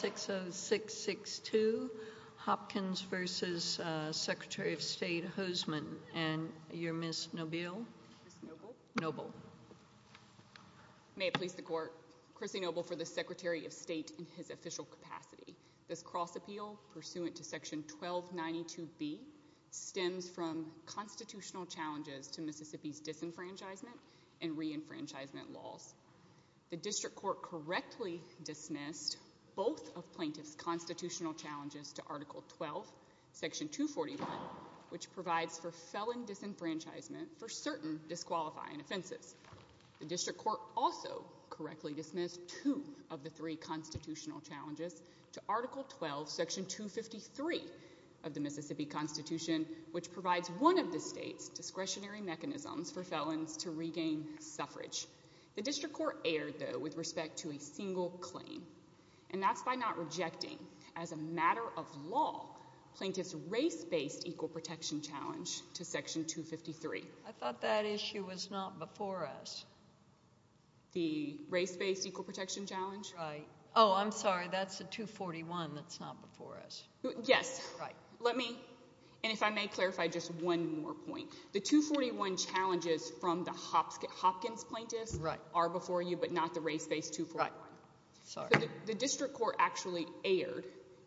60662 Hopkins v. Secretary of State Hosemann and your Ms. Noble. May it please the court. Chrissy Noble for the Secretary of State in his official capacity. This cross appeal pursuant to section 1292B stems from constitutional challenges to Mississippi's disenfranchisement and reenfranchisement laws. The district court correctly dismissed both of plaintiffs constitutional challenges to article 12 section 241 which provides for felon disenfranchisement for certain disqualifying offenses. The district court also correctly dismissed two of the three constitutional challenges to article 12 section 253 of the Mississippi Constitution which provides one of the state's discretionary mechanisms for felons to regain suffrage. The district court erred though with respect to a single claim and that's by not rejecting as a matter of law plaintiff's race-based equal protection challenge to section 253. I thought that issue was not before us. The race-based equal protection challenge? Right. Oh, I'm sorry. That's the 241 that's not before us. Yes. Right. Let me, and if I may clarify just one more point. The 241 challenges from the Hopkins plaintiffs are before you but not the race-based 241. The district court actually erred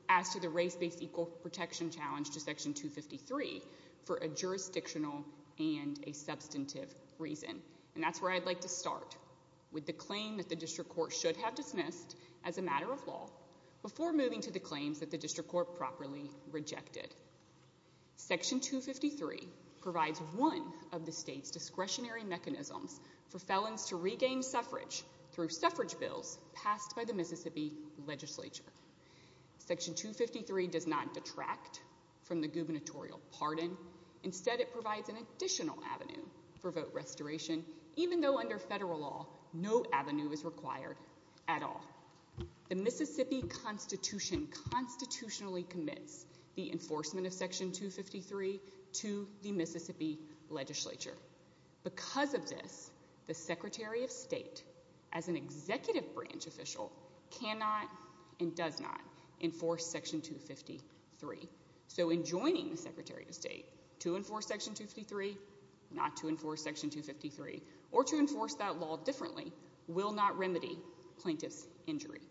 as to the race-based equal protection challenge to section 253 for a jurisdictional and a substantive reason and that's where I'd like to start with the claim that the district court should have dismissed as a matter of law before moving to the claims that the district court properly rejected. Section 253 provides one of the state's discretionary mechanisms for felons to regain suffrage through suffrage bills passed by the Mississippi legislature. Section 253 does not detract from the gubernatorial pardon. Instead it provides an additional avenue for vote restoration even though under federal law no avenue is required at all. The Mississippi constitution constitutionally commits the enforcement of section 253 to the Mississippi legislature. Because of this, the secretary of state as an executive branch official cannot and does not enforce section 253. So in joining the secretary of state to enforce section 253, not to enforce section 253 or to enforce that law differently will not remedy plaintiff's injury.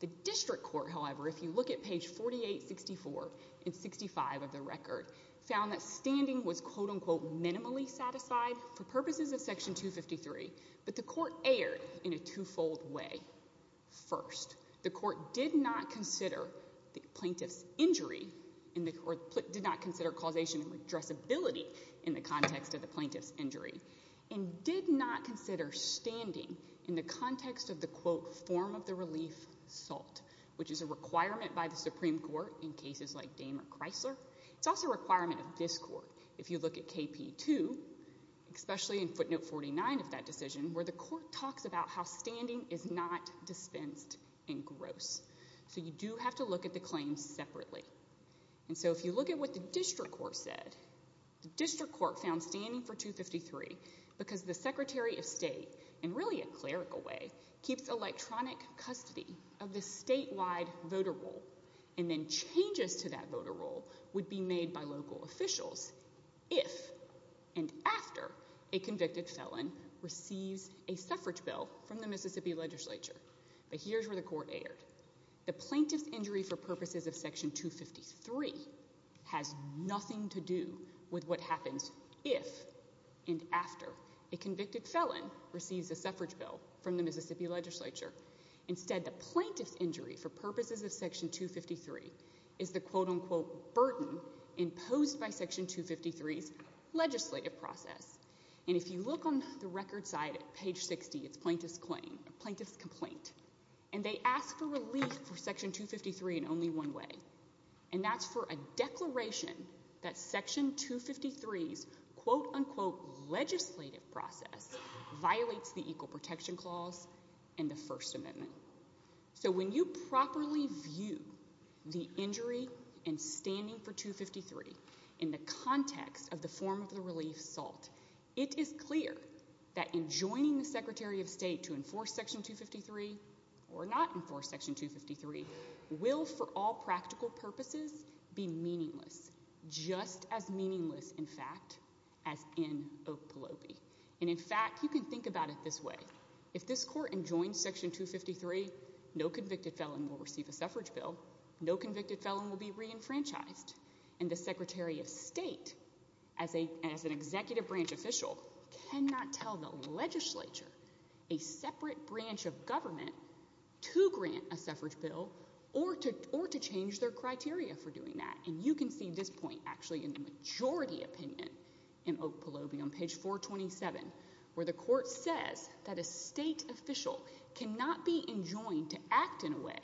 The district court, however, if you look at page 4864 and 65 of the record, found that standing was quote unquote minimally satisfied for purposes of section 253 but the court erred in a twofold way. First, the court did not consider the plaintiff's injury or did not consider causation and redressability in the context of the plaintiff's injury and did not consider standing in the context of the quote form of the relief salt which is a requirement by the Supreme Court in cases like Dame or Chrysler. It's also a requirement of this court if you look at KP2, especially in footnote 49 of that decision where the court talks about how standing is not dispensed and gross. So you do have to look at the claims separately. And so if you look at what the district court said, the district court found standing for 253 because the secretary of state in really a clerical way keeps electronic custody of the statewide voter roll and then changes to that voter roll would be made by local officials if and after a convicted felon receives a suffrage bill from the Mississippi legislature. But here's where the court erred. The plaintiff's injury for purposes of section 253 has nothing to do with what happens if and after a convicted felon receives a suffrage bill from the Mississippi legislature. Instead, the plaintiff's injury for purposes of section 253 is the quote unquote burden imposed by section 253's legislative process. And if you look on the record side at page 60, it's plaintiff's claim, plaintiff's complaint. And they ask for relief for section 253 in only one way. And that's for a declaration that section 253's quote unquote legislative process violates the equal protection clause and the first amendment. So when you properly view the injury and standing for 253 in the context of the form of the or not enforce section 253, will for all practical purposes be meaningless, just as meaningless in fact as in Oakpillope. And in fact, you can think about it this way. If this court enjoins section 253, no convicted felon will receive a suffrage bill. No convicted felon will be reenfranchised. And the Secretary of State as an executive branch official cannot tell the legislature a separate branch of government to grant a suffrage bill or to change their criteria for doing that. And you can see this point actually in the majority opinion in Oakpillope on page 427, where the court says that a state official cannot be enjoined to act in a way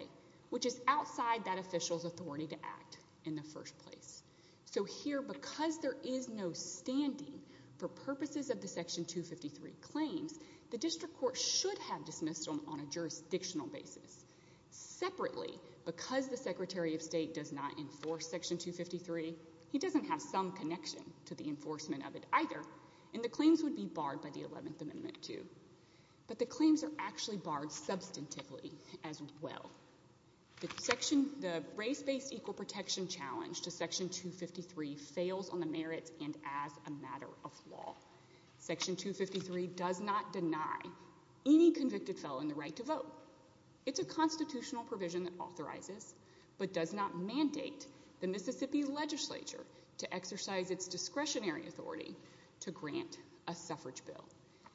which is outside that official's authority to act in the first place. So here, because there is no standing for purposes of the section 253 claims, the district court should have dismissed them on a jurisdictional basis. Separately, because the Secretary of State does not enforce section 253, he doesn't have some connection to the enforcement of it either. And the claims would be barred by the 11th amendment too. But the claims are actually barred substantively as well. The race-based equal protection challenge to section 253 fails on the merits and as a matter of law. Section 253 does not deny any convicted felon the right to vote. It's a constitutional provision that authorizes, but does not mandate, the Mississippi legislature to exercise its discretionary authority to grant a suffrage bill.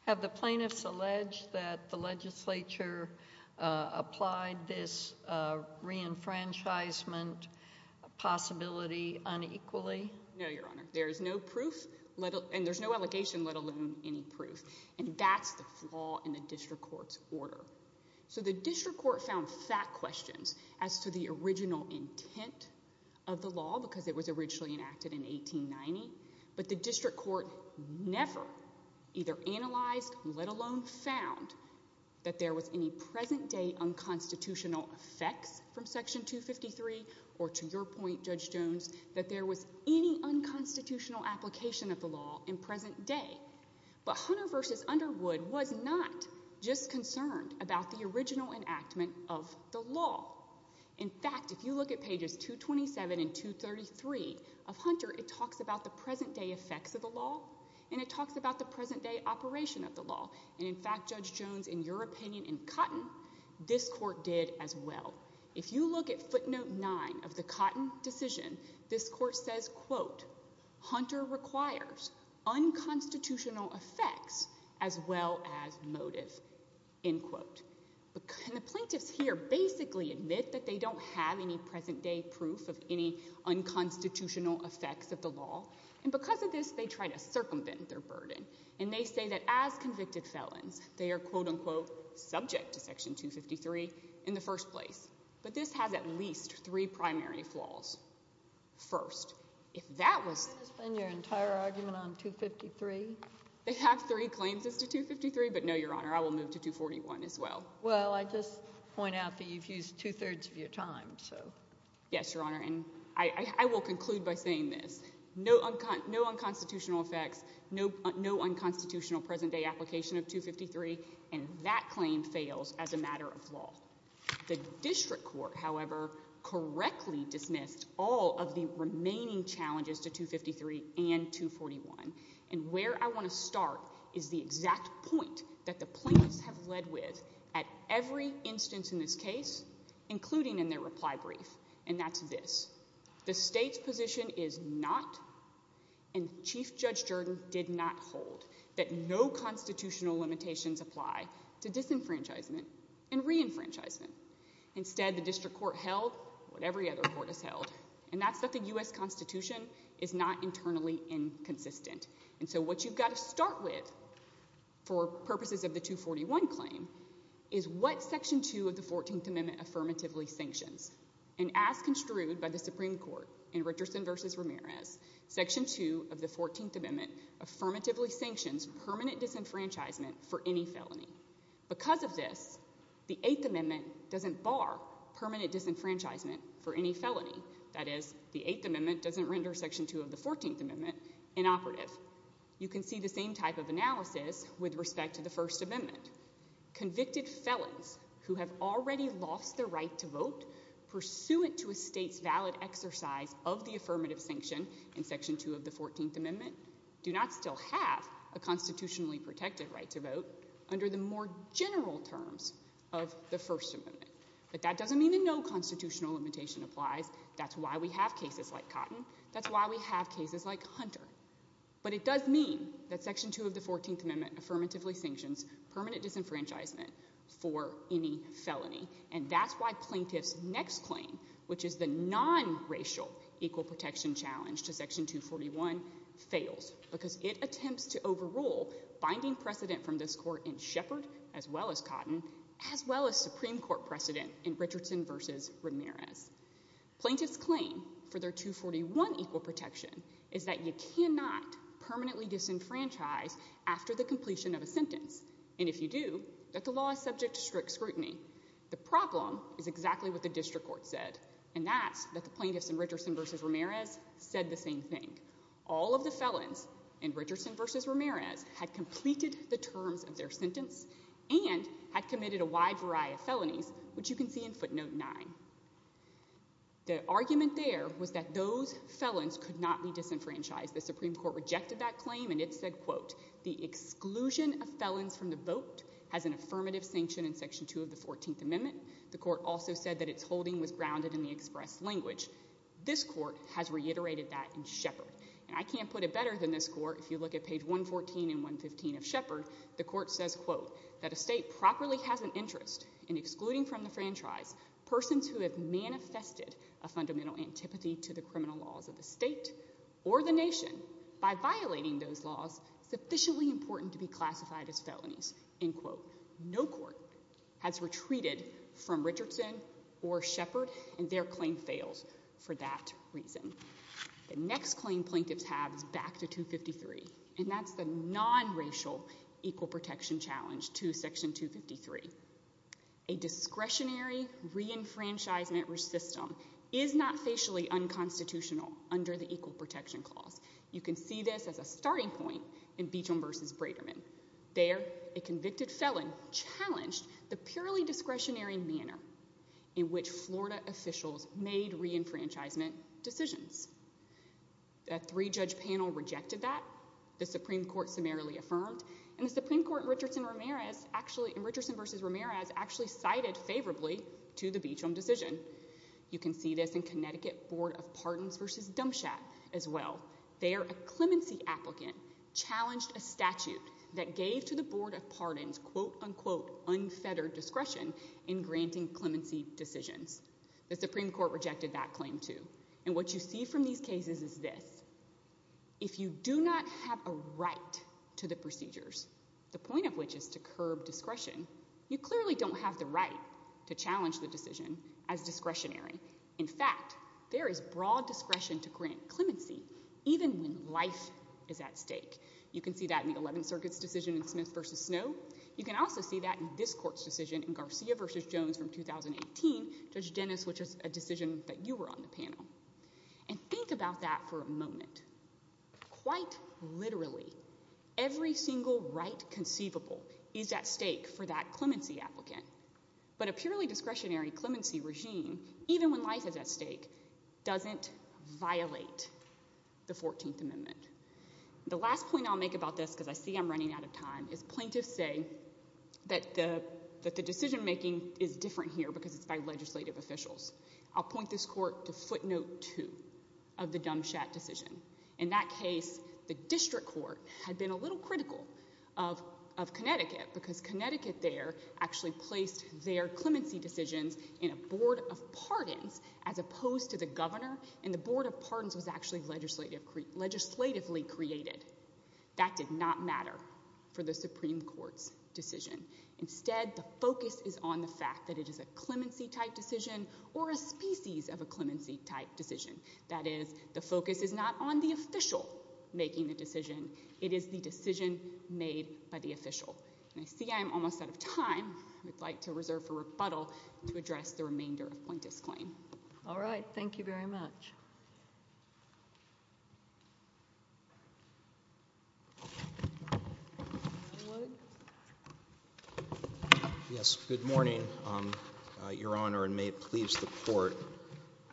Have the plaintiffs alleged that the legislature applied this re-enfranchisement possibility unequally? No, Your Honor. There is no proof, and there's no allegation, let alone any proof. And that's the flaw in the district court's order. So the district court found fat questions as to the original intent of the law, because it was originally enacted in 1890. But the district court never either analyzed, let alone found, that there was any present-day unconstitutional effects from section 253, or to your point, Judge Jones, that there was any unconstitutional application of the law in present day. But Hunter v. Underwood was not just concerned about the original enactment of the law. In fact, if you look at pages 227 and 233 of Hunter, it talks about the present-day effects of the law, and it talks about the present-day operation of the law. And in fact, Judge Jones, in your opinion, in Cotton, this court did as well. If you look at footnote 9 of the Cotton decision, this court says, quote, Hunter requires unconstitutional effects as well as motive, end quote. And the plaintiffs here basically admit that they don't have any present-day proof of any unconstitutional effects of the law. And because of this, they try to circumvent their burden. And they say that as convicted felons, they are, quote, unquote, subject to section 253 in the first place. But this has at least three primary flaws. First, if that was- Can you explain your entire argument on 253? They have three claims as to 253. But no, Your Honor. I will move to 241 as well. Well, I just point out that you've used two-thirds of your time, so. Yes, Your Honor. And I will conclude by saying this. No unconstitutional effects, no unconstitutional present-day application of 253. And that claim fails as a matter of law. The district court, however, correctly dismissed all of the remaining challenges to 253 and 241. And where I want to start is the exact point that the plaintiffs have led with at every instance in this case, including in their reply brief, and that's this. The state's position is not, and Chief Judge Jordan did not hold, that no constitutional limitations apply to disenfranchisement and re-enfranchisement. Instead, the district court held what every other court has held, and that's that the And so what you've got to start with, for purposes of the 241 claim, is what Section 2 of the 14th Amendment affirmatively sanctions. And as construed by the Supreme Court in Richardson v. Ramirez, Section 2 of the 14th Amendment affirmatively sanctions permanent disenfranchisement for any felony. Because of this, the Eighth Amendment doesn't bar permanent disenfranchisement for any felony. That is, the Eighth Amendment doesn't render Section 2 of the 14th Amendment inoperative. You can see the same type of analysis with respect to the First Amendment. Convicted felons who have already lost their right to vote pursuant to a state's valid exercise of the affirmative sanction in Section 2 of the 14th Amendment do not still have a constitutionally protected right to vote under the more general terms of the First Amendment. But that doesn't mean that no constitutional limitation applies. That's why we have cases like Cotton. That's why we have cases like Hunter. But it does mean that Section 2 of the 14th Amendment affirmatively sanctions permanent disenfranchisement for any felony. And that's why Plaintiff's next claim, which is the non-racial equal protection challenge to Section 241, fails. Because it attempts to overrule binding precedent from this Court in Shepard, as well as Cotton, as well as Supreme Court precedent in Richardson v. Ramirez. Plaintiff's claim for their 241 equal protection is that you cannot permanently disenfranchise after the completion of a sentence. And if you do, that the law is subject to strict scrutiny. The problem is exactly what the district court said. And that's that the plaintiffs in Richardson v. Ramirez said the same thing. All of the felons in Richardson v. Ramirez had completed the terms of their sentence and had committed a wide variety of felonies, which you can see in footnote 9. The argument there was that those felons could not be disenfranchised. The Supreme Court rejected that claim and it said, quote, the exclusion of felons from the vote has an affirmative sanction in Section 2 of the 14th Amendment. The Court also said that its holding was grounded in the express language. This Court has reiterated that in Shepard. And I can't put it better than this Court. If you look at page 114 and 115 of Shepard, the Court says, quote, that a state properly has an interest in excluding from the franchise persons who have manifested a fundamental antipathy to the criminal laws of the state or the nation. By violating those laws, it's officially important to be classified as felonies. End quote. No court has retreated from Richardson or Shepard and their claim fails for that reason. The next claim plaintiffs have is back to 253. And that's the non-racial equal protection challenge to Section 253. A discretionary reenfranchisement system is not facially unconstitutional under the Equal Protection Clause. You can see this as a starting point in Beecham v. Brederman. There, a convicted felon challenged the purely discretionary manner in which Florida officials made reenfranchisement decisions. A three-judge panel rejected that. The Supreme Court summarily affirmed. And the Supreme Court in Richardson v. Ramirez actually cited favorably to the Beecham decision. You can see this in Connecticut Board of Pardons v. Dumpshat as well. There, a clemency applicant challenged a statute that gave to the Board of Pardons quote-unquote unfettered discretion in granting clemency decisions. The Supreme Court rejected that claim too. And what you see from these cases is this. If you do not have a right to the procedures, the point of which is to curb discretion, you clearly don't have the right to challenge the decision as discretionary. In fact, there is broad discretion to grant clemency even when life is at stake. You can see that in the Eleventh Circuit's decision in Smith v. Snow. You can also see that in this court's decision in Garcia v. Jones from 2018, Judge Dennis, which is a decision that you were on the panel. And think about that for a moment. Quite literally, every single right conceivable is at stake for that clemency applicant. But a purely discretionary clemency regime, even when life is at stake, doesn't violate the 14th Amendment. The last point I'll make about this, because I see I'm running out of time, is plaintiffs say that the decision-making is different here because it's by legislative officials. I'll point this court to footnote 2 of the Dumchat decision. In that case, the district court had been a little critical of Connecticut because Connecticut there actually placed their clemency decisions in a Board of Pardons as opposed to the governor, and the Board of Pardons was actually legislatively created. That did not matter for the Supreme Court's decision. Instead, the focus is on the fact that it is a clemency-type decision or a species of a clemency-type decision. That is, the focus is not on the official making the decision. It is the decision made by the official. And I see I'm almost out of time. I would like to reserve for rebuttal to address the remainder of plaintiff's claim. All right. Thank you very much. Yes, good morning, Your Honor, and may it please the court.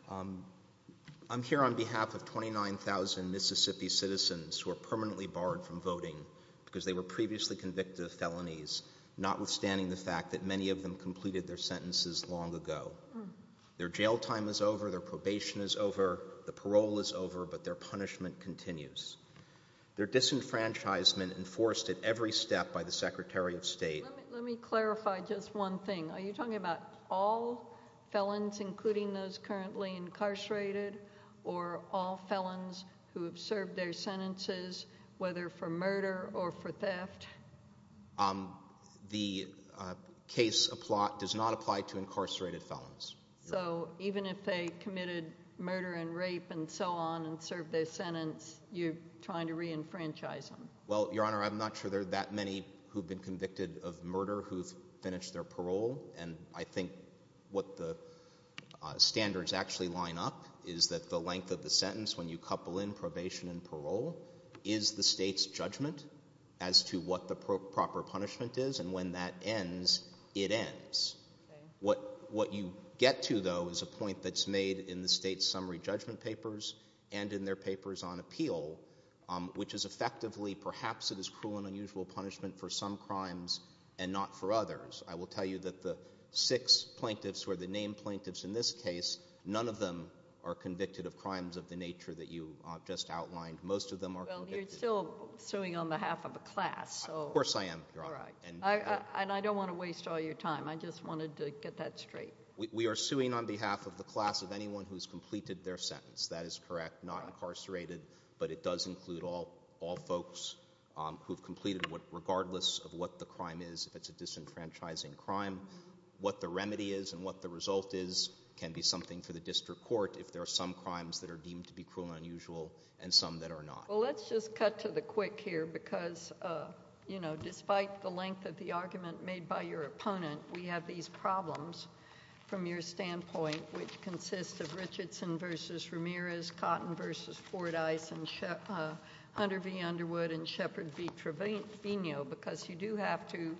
I'm here on behalf of 29,000 Mississippi citizens who are permanently barred from voting because they were previously convicted of felonies, notwithstanding the fact that many of them completed their sentences long ago. Their jail time is over, their probation is over, the parole is over, but their punishment continues. Their disenfranchisement, enforced at every step by the Secretary of State— Let me clarify just one thing. Are you talking about all felons, including those currently incarcerated, or all felons who have served their sentences, whether for murder or for theft? The case does not apply to incarcerated felons. So even if they committed murder and rape and so on and served their sentence, you're trying to reenfranchise them? Well, Your Honor, I'm not sure there are that many who have been convicted of murder who have finished their parole, and I think what the standards actually line up is that the length of the sentence when you couple in probation and parole is the state's judgment as to what the proper punishment is, and when that ends, it ends. What you get to, though, is a point that's made in the state's summary judgment papers and in their papers on appeal, which is effectively perhaps it is cruel and unusual punishment for some crimes and not for others. I will tell you that the six plaintiffs who are the named plaintiffs in this case, none of them are convicted of crimes of the nature that you just outlined. Well, you're still suing on behalf of a class. Of course I am, Your Honor. And I don't want to waste all your time. I just wanted to get that straight. We are suing on behalf of the class of anyone who has completed their sentence. That is correct. Not incarcerated, but it does include all folks who have completed regardless of what the crime is. If it's a disenfranchising crime, what the remedy is and what the result is can be something for the district court if there are some crimes that are deemed to be cruel and unusual and some that are not. Well, let's just cut to the quick here because despite the length of the argument made by your opponent, we have these problems from your standpoint which consist of Richardson v. Ramirez, Cotton v. Fordyce, Hunter v. Underwood and Shepherd v. Trevino because you do have to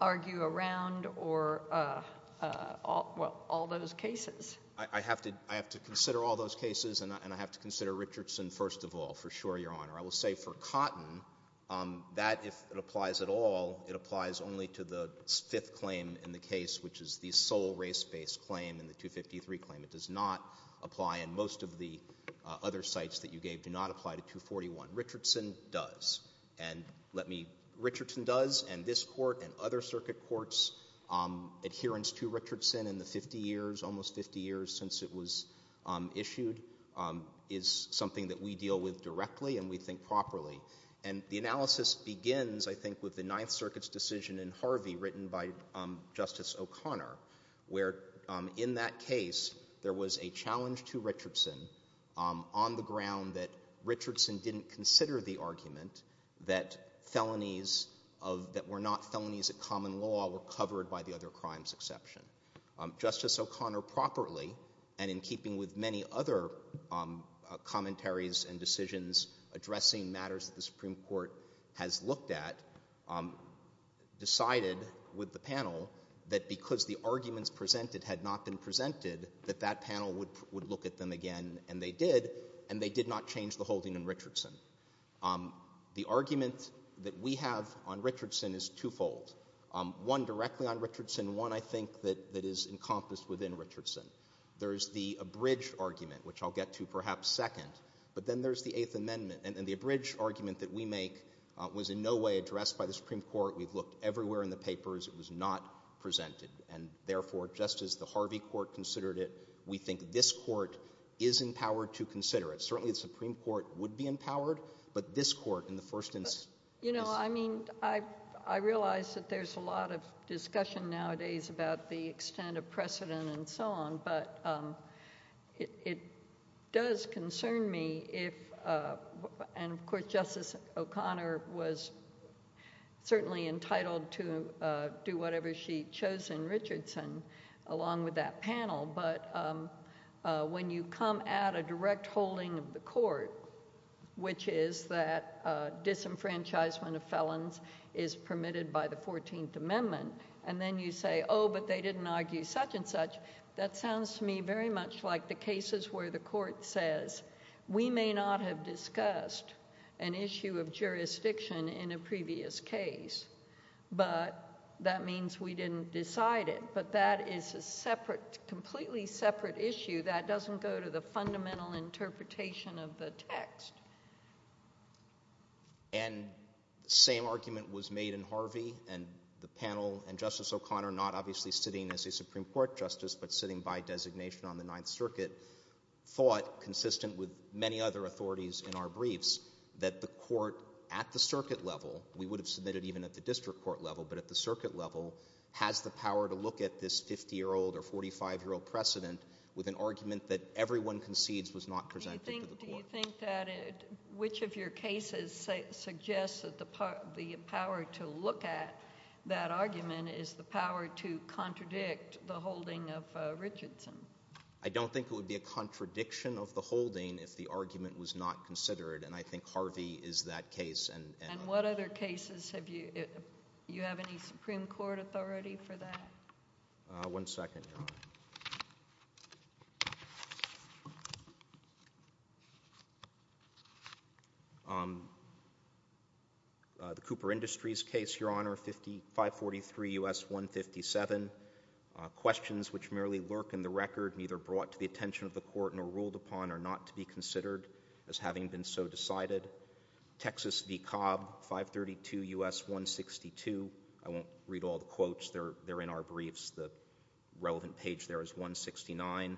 argue around all those cases. I have to consider all those cases and I have to consider Richardson first of all, for sure, Your Honor. I will say for Cotton, that if it applies at all, it applies only to the fifth claim in the case which is the sole race-based claim in the 253 claim. It does not apply in most of the other sites that you gave. Do not apply to 241. Richardson does. And this court and other circuit courts adherence to Richardson in the 50 years, almost 50 years since it was issued is something that we deal with directly and we think properly. And the analysis begins, I think, with the Ninth Circuit's decision in Harvey written by Justice O'Connor where in that case there was a challenge to Richardson on the ground that Richardson didn't consider the argument that felonies that were not felonies of common law were covered by the other crimes exception. Justice O'Connor properly and in keeping with many other commentaries and decisions addressing matters that the Supreme Court has looked at decided with the panel that because the arguments presented had not been presented that that panel would look at them again and they did and they did not change the holding in Richardson. The argument that we have on Richardson is two-fold. One directly on Richardson and one, I think, that is encompassed within Richardson. There's the abridged argument, which I'll get to perhaps second, but then there's the Eighth Amendment and the abridged argument that we make was in no way addressed by the Supreme Court. We've looked everywhere in the papers. It was not presented and therefore just as the Harvey Court considered it we think this Court is empowered to consider it. Certainly the Supreme Court would be empowered but this Court in the first instance... There's a lot of discussion nowadays about the extent of precedent and so on, but it does concern me if and of course Justice O'Connor was certainly entitled to do whatever she chose in Richardson along with that panel, but when you come at a direct holding of the Court which is that disenfranchisement of felons is permitted by the Fourteenth Amendment and then you say, oh, but they didn't argue such and such that sounds to me very much like the cases where the Court says we may not have discussed an issue of jurisdiction in a previous case but that means we didn't decide it, but that is a separate, completely separate issue that doesn't go to the fundamental interpretation of the text. And the same argument was made in Harvey and the panel and Justice O'Connor, not obviously sitting as a Supreme Court Justice, but sitting by designation on the Ninth Circuit thought, consistent with many other authorities in our briefs, that the Court at the Circuit level we would have submitted even at the District Court level, but at the Circuit level has the power to look at this 50-year-old or 45-year-old precedent with an argument that everyone concedes was not presented to the Court. Do you think that which of your cases suggests that the power to look at that argument is the power to contradict the holding of Richardson? I don't think it would be a contradiction of the holding if the argument was not considered, and I think Harvey is that case. And what other cases have you, do you have any Supreme Court authority for that? One second, Your Honor. The Cooper Industries case, Your Honor, 543 U.S. 157. Questions which merely lurk in the record, neither brought to the attention of the Court nor ruled upon are not to be considered as having been so decided. Texas v. Cobb, 532 U.S. 162. I won't read all the quotes. They're in our briefs. 532 U.S. 162. Questions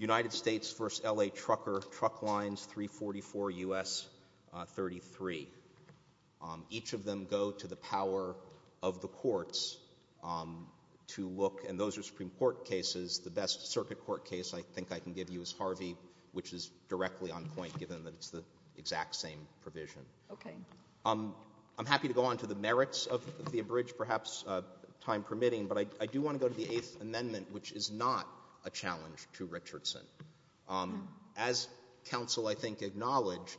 which merely lurk Truck Lines, 344 U.S. 33. Each of them go to the power of the courts to look, and those are Supreme Court cases. The best Circuit Court case I think I can give you is Harvey, which is directly on point, given that it's the exact same provision. Okay. I'm happy to go on to the merits of the abridged, perhaps time permitting, but I do want to go to the Eighth Amendment, which is not a challenge to Richardson. As counsel I think acknowledged,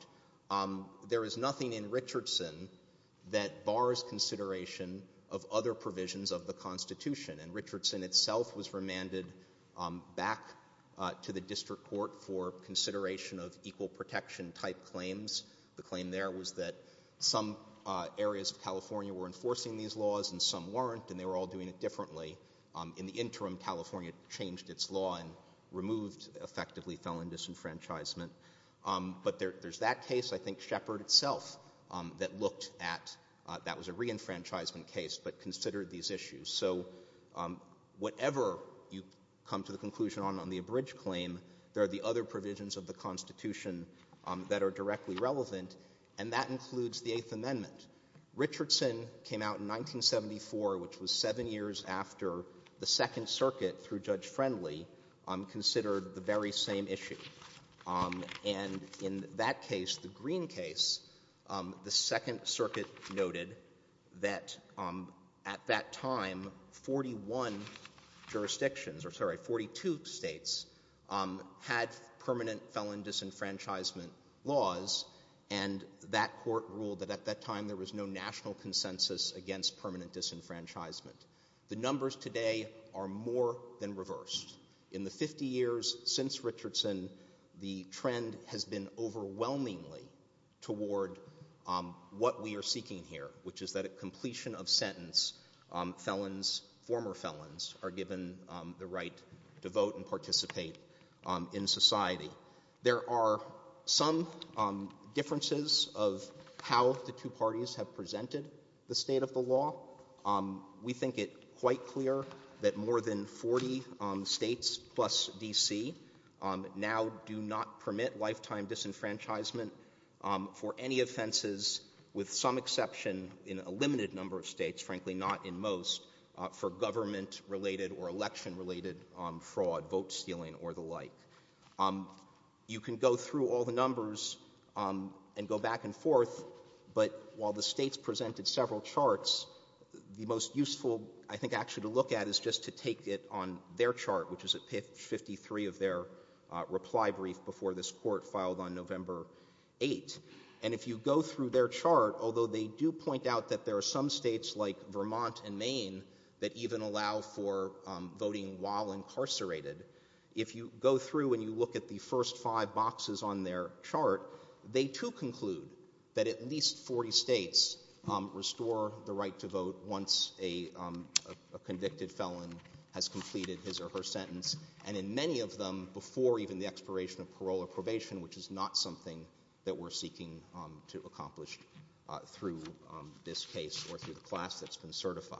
there is nothing in Richardson that bars consideration of other provisions of the Constitution, and Richardson itself was remanded back to the District Court for consideration of equal protection type claims. The claim there was that some areas of California were enforcing these laws and some weren't, and they were all doing it differently. In the interim, California changed its law and removed effectively felon disenfranchisement. But there's that case, I think Shepard itself, that looked at, that was a reenfranchisement case, but considered these issues. So, whatever you come to the conclusion on on the abridged claim, there are the other provisions of the Constitution that are directly relevant, and that includes the Eighth Amendment. Richardson came out in 1974, which was seven years after the Second Circuit, through Judge Friendly, considered the very same issue. And in that case, the Green case, the Second Circuit noted that at that time 41 jurisdictions or sorry, 42 states had permanent felon disenfranchisement laws, and that court ruled that at that time there was no national consensus against permanent disenfranchisement. The numbers today are more than reversed. In the 50 years since Richardson, the trend has been overwhelmingly toward what we are seeking here, which is that at completion of sentence felons, former felons, are given the right to vote and participate in society. There are some differences of how the two parties have presented the state of the law. We think it quite clear that more than 40 states plus D.C. now do not permit lifetime disenfranchisement for any offenses, with some exception in a limited number of states, frankly not in most, for government-related or election-related fraud, vote stealing or the like. You can go through all the numbers and go back and forth, but while the states presented several charts, the most useful, I think, actually to look at is just to take it on their chart, which is at page 53 of their reply brief before this court filed on November 8. And if you go through their chart, although they do point out that there are some states like Vermont and Maine that even allow for voting while incarcerated, if you go through and you look at the first five boxes on their chart, they too conclude that at least 40 states restore the right to vote once a convicted felon has completed his or her sentence, and in many of them before even the expiration of parole or probation, which is not something that we're seeking to accomplish through this case or through the class that's been certified.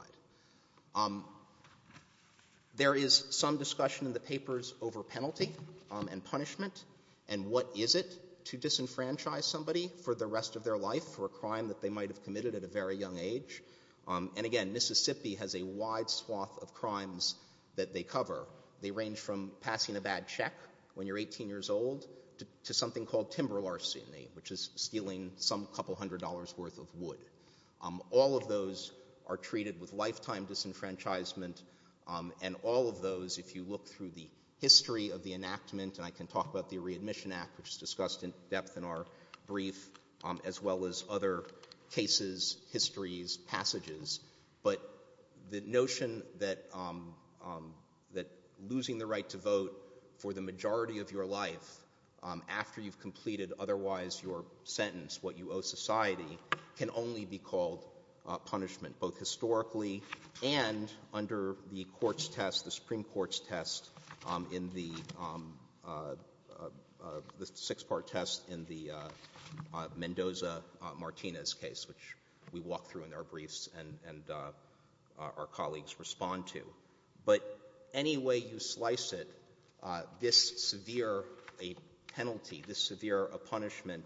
There is some discussion in the papers over penalty and punishment and what is it to disenfranchise somebody for the rest of their life for a crime that they might have committed at a very young age. And again, Mississippi has a wide swath of crimes that they cover. They range from passing a bad check when you're 18 years old to something called timber larceny, which is stealing some couple hundred dollars worth of wood. All of those are treated with lifetime disenfranchisement, and all of those, if you look through the Re-Admission Act, which is discussed in depth in our brief, as well as other cases, histories, passages, but the notion that losing the right to vote for the majority of your life after you've completed otherwise your sentence, what you owe society, can only be called punishment both historically and under the courts test, the Supreme Court's test in the six-part test in the Mendoza-Martinez case, which we walk through in our briefs and our colleagues respond to. But any way you slice it, this severe penalty, this severe punishment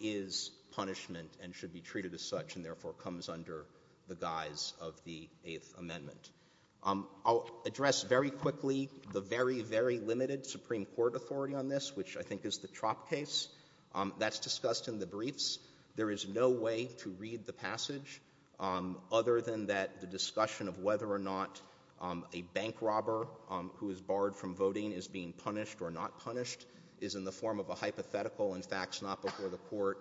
is punishment and should be treated as such, and therefore comes under the guise of the Eighth Amendment. I'll address very quickly the very, very limited Supreme Court authority on this, which I think is the Tropp case. That's discussed in the briefs. There is no way to read the passage other than that the discussion of whether or not a bank robber who is barred from voting is being punished or not punished is in the form of a hypothetical and facts not before the court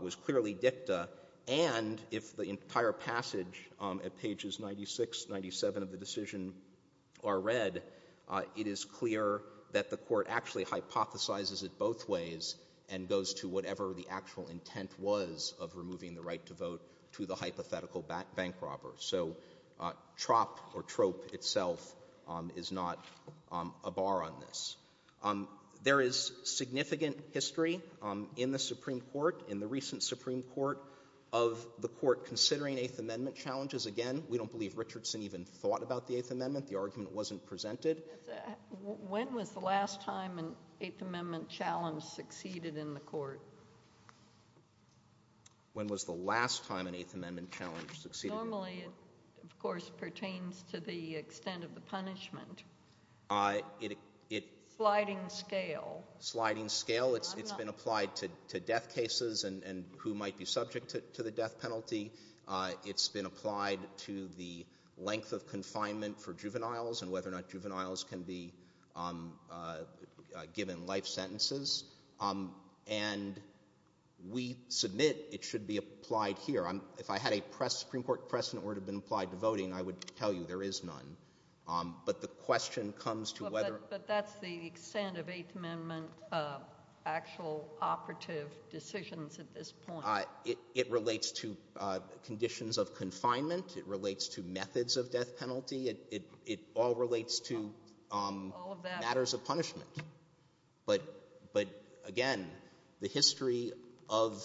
was clearly dicta, and if the entire passage at pages 96, 97 of the decision are read, it is clear that the court actually hypothesizes it both ways and goes to whatever the actual intent was of removing the right to vote to the hypothetical bank robber. So Tropp or trope itself is not a bar on this. There is significant history in the Supreme Court, in the recent Supreme Court, of the court considering Eighth Amendment challenges. Again, we don't believe Richardson even thought about the Eighth Amendment. The argument wasn't presented. When was the last time an Eighth Amendment challenge succeeded in the court? When was the last time an Eighth Amendment challenge succeeded? Normally, of course, it pertains to the extent of the punishment. Sliding scale. It's been applied to death subject to the death penalty. It's been applied to the length of confinement for juveniles and whether or not juveniles can be given life sentences. And we submit it should be applied here. If I had a Supreme Court precedent that would have been applied to voting, I would tell you there is none. But the question comes to whether... But that's the extent of Eighth Amendment actual operative decisions at this point. It relates to conditions of confinement. It relates to methods of death penalty. It all relates to matters of punishment. But again, the history of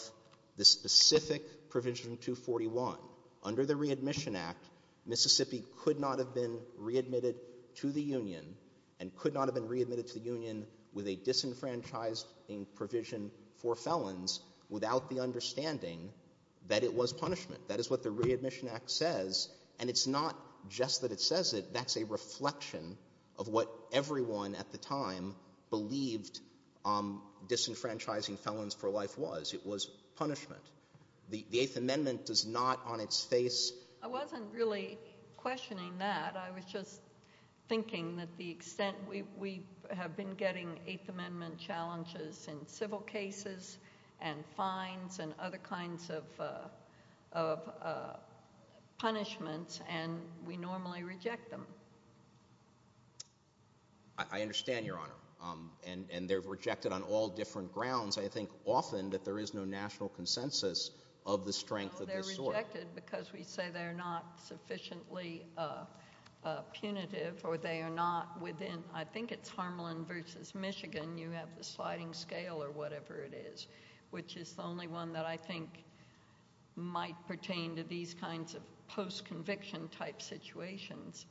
the specific provision 241, under the Readmission Act, Mississippi could not have been readmitted to the Union and could not have been readmitted to the Union with a disenfranchised provision for felons without the understanding that it was punishment. That is what the Readmission Act says. And it's not just that it says it. That's a reflection of what everyone at the time believed disenfranchising felons for life was. It was punishment. The Eighth Amendment does not on its face... I wasn't really questioning that. I was just thinking that the extent we have been getting Eighth Amendment challenges in civil cases and fines and other kinds of punishments and we normally reject them. I understand, Your Honor. They're rejected on all different grounds. I think often that there is no national consensus of the strength of this sort. They're rejected because we say they're not sufficiently punitive or they are not sufficient. I think that's the only one that I think might pertain to these kinds of post-conviction type situations.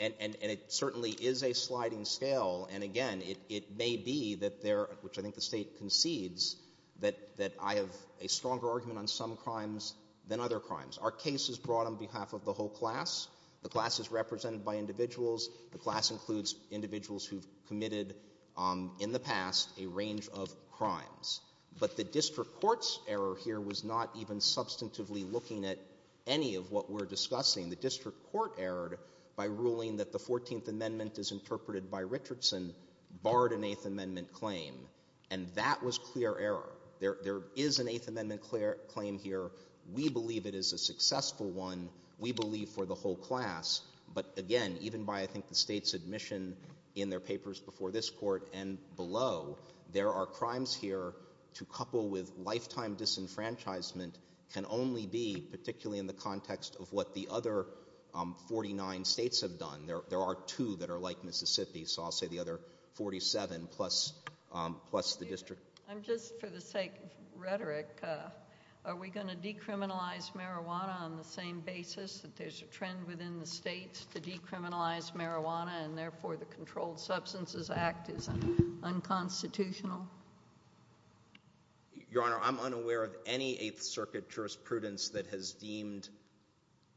And it certainly is a sliding scale and again it may be that there, which I think the state concedes, that I have a stronger argument on some crimes than other crimes. Our case is brought on behalf of the whole class. The class is represented by individuals. The class includes individuals who have committed in the past a range of crimes. But the district court's error here was not even substantively looking at any of what we're discussing. The district court erred by ruling that the 14th Amendment is interpreted by Richardson barred an Eighth Amendment claim and that was clear error. There is an Eighth Amendment claim here. We believe it is a successful one. We believe for the whole class but again even by I think the state's admission in their papers before this court and below there are crimes here to couple with lifetime disenfranchisement can only be particularly in the context of what the other 49 states have done. There are two that are like Mississippi so I'll say the other 47 plus the district. I'm just for the sake of rhetoric are we going to decriminalize marijuana on the same basis that there's a trend within the states to decriminalize marijuana and therefore the Controlled Substances Act is unconstitutional? Your Honor I'm unaware of any Eighth Circuit jurisprudence that has deemed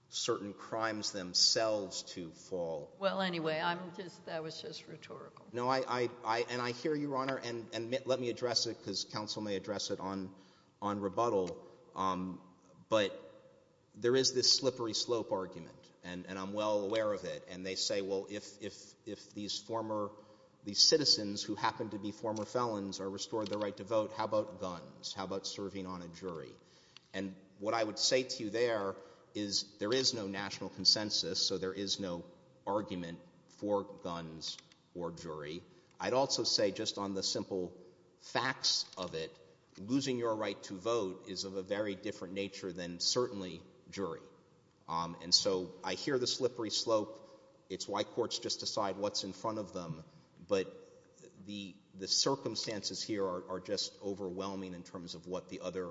certain crimes themselves to fall. Well anyway I'm just that was just rhetorical. No I and I hear you Your Honor and let me address it because counsel may address it on rebuttal but there is this slippery slope argument and I'm well aware of it and they say well if these citizens who happen to be former felons are restored their right to vote how about guns? How about serving on a jury? What I would say to you there is there is no national consensus so there is no argument for guns or jury I'd also say just on the simple facts of it losing your right to vote is of a very different nature than certainly jury and so I hear the slippery slope it's why courts just decide what's in front of them but the circumstances here are just overwhelming in terms of what the other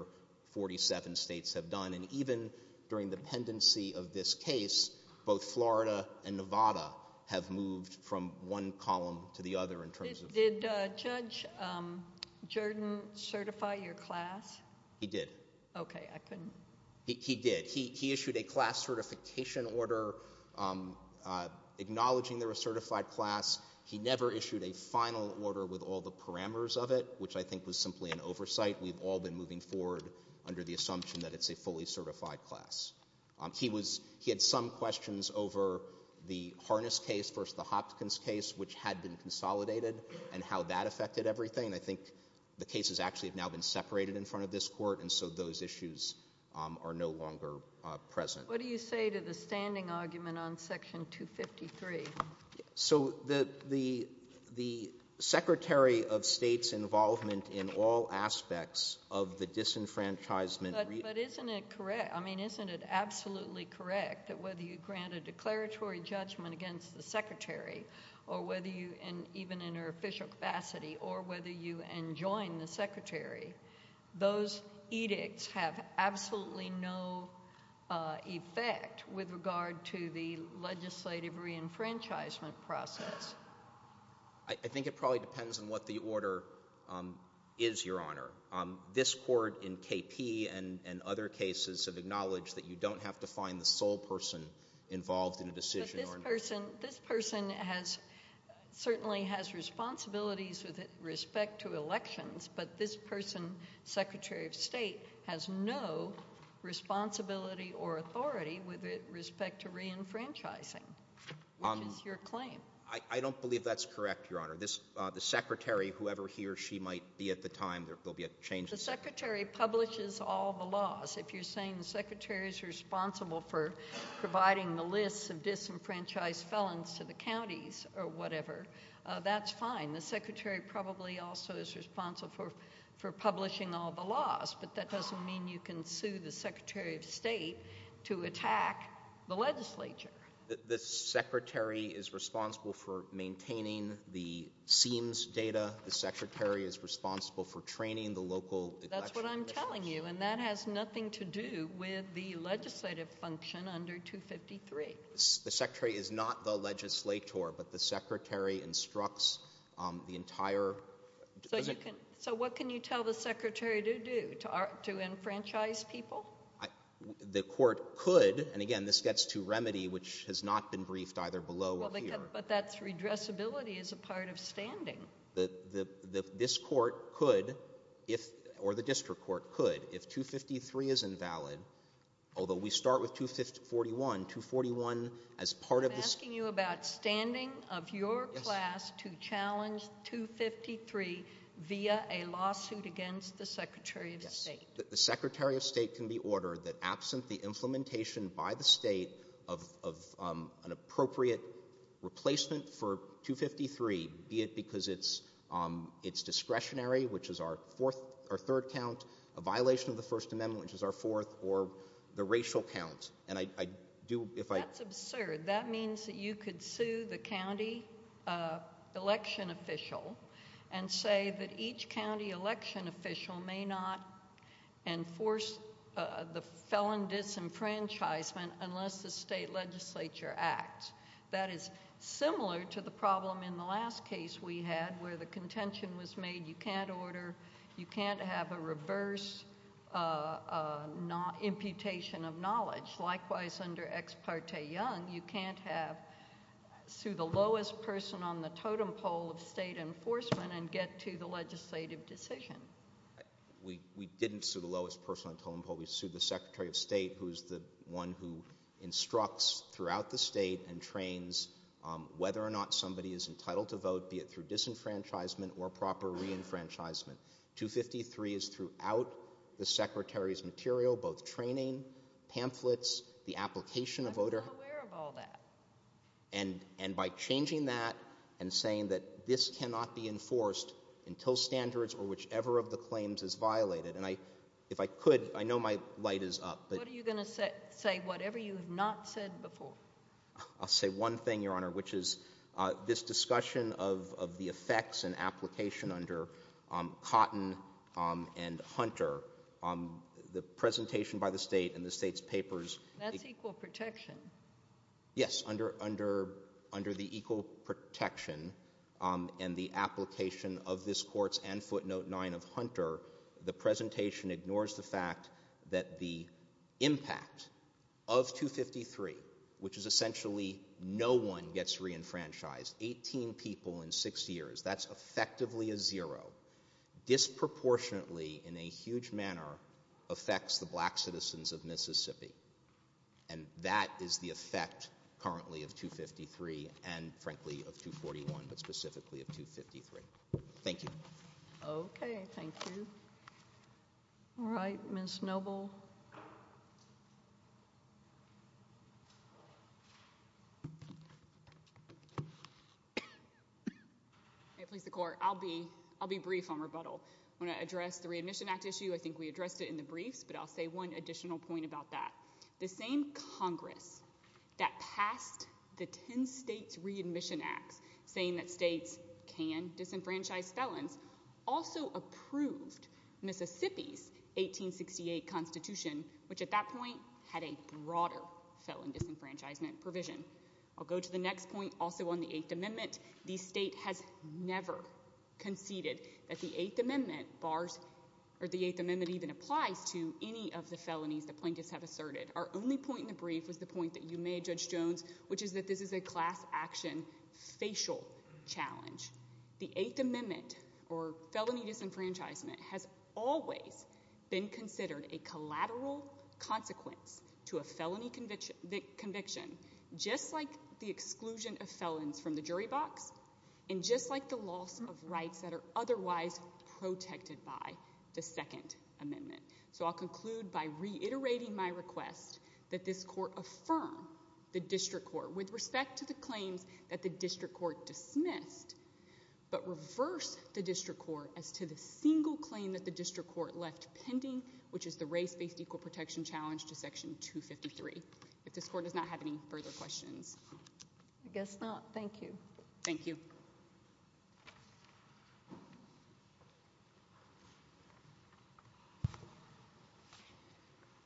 47 states have done and even during the pendency of this case both Florida and Nevada have moved from one column to the other in terms of. Did Judge Jordan certify your class? He did. Okay I couldn't. He did. He issued a class certification order acknowledging they were a certified class he never issued a final order with all the parameters of it which I think was simply an oversight we've all been moving forward under the assumption that it's a fully certified class. He had some questions over the Harness case versus the Hopkins case which had been consolidated and how that affected everything I think the cases actually have now been separated in front of this court and so those issues are no longer present. What do you say to the standing argument on section 253? So the the Secretary of State's involvement in all aspects of the disenfranchisement. But isn't it correct I mean isn't it absolutely correct that whether you grant a declaratory judgment against the Secretary or whether you even in an official capacity or whether you enjoin the Secretary those edicts have absolutely no effect with regard to the legislative reenfranchisement process. I think it probably depends on what the order is your honor. This court in KP and other cases have acknowledged that you don't have to find the sole person involved in a certainly has responsibilities with respect to elections but this person Secretary of State has no responsibility or authority with respect to reenfranchising which is your claim. I don't believe that's correct your honor. This Secretary whoever he or she might be at the time there will be a change. The Secretary publishes all the laws. If you're saying the Secretary's responsible for providing the list of reenfranchised felons to the counties or whatever that's fine the Secretary probably also is responsible for publishing all the laws but that doesn't mean you can sue the Secretary of State to attack the legislature. The Secretary is responsible for maintaining the SEAMS data the Secretary is responsible for training the local. That's what I'm telling you and that has nothing to do with the legislative function under 253. The Secretary is not the legislator but the Secretary instructs the entire So what can you tell the Secretary to do? To enfranchise people? The court could and again this gets to remedy which has not been briefed either below or here. But that's redressability as a part of standing. This court could if or the district court could if 253 is invalid although we start with 241 I'm asking you about standing of your class to challenge 253 via a lawsuit against the Secretary of State. The Secretary of State can be ordered that absent the implementation by the state of an appropriate replacement for 253 be it because it's discretionary which is our third count a violation of the first amendment which is our fourth or the racial count and I do if I That's absurd. That means that you could sue the county election official and say that each county election official may not enforce the felon disenfranchisement unless the state legislature acts that is similar to the problem in the last case we had where the contention was made you can't you can't have a reverse imputation of knowledge likewise under ex parte young you can't have sue the lowest person on the totem pole of state enforcement and get to the legislative decision We didn't sue the lowest person on the totem pole. We sued the Secretary of State who is the one who instructs throughout the state and trains whether or not somebody is entitled to vote be it through disenfranchisement or proper reenfranchisement 253 is throughout the Secretary's material both training pamphlets I'm not aware of all that and by changing that and saying that this cannot be enforced until standards or whichever of the claims is violated and I if I could I know my light is up What are you going to say whatever you have not said before? I'll say one thing your honor which is this discussion of the effects and application under Cotton and Hunter the presentation by the state and the state's papers That's equal protection Yes under the equal protection and the application of this courts and footnote 9 of Hunter the presentation ignores the fact that the impact of 253 which is essentially no one gets reenfranchised 18 people in 6 years that's effectively a zero disproportionately in a huge manner affects the black citizens of Mississippi and that is the effect currently of 253 and frankly of 241 but specifically of 253. Thank you Okay thank you Alright Ms. Noble Please the court I'll be brief on rebuttal I want to address the readmission act issue I think we addressed it in the briefs but I'll say one additional point about that the same congress that passed the 10 states readmission act saying that states can disenfranchise felons also approved Mississippi's 1868 constitution which at that point had a broader felon disenfranchisement provision I'll go to the next point also on the 8th amendment. The state has never conceded that the 8th amendment even applies to any of the felonies the plaintiffs have asserted our only point in the brief was the point that you made Judge Jones which is that this is a class action facial challenge. The 8th amendment or felony disenfranchisement has always been considered a collateral consequence to a felony conviction just like the exclusion of felons from the jury box and just like the loss of rights that are otherwise protected by the 2nd amendment. So I'll conclude by reiterating my request that this court affirm the district court with respect to the claims that the district court dismissed but reverse the district court as to the single claim that the district court left pending which is the race based equal protection challenge to section 253. If this court does not have any further questions. I guess not. Thank you. Thank you.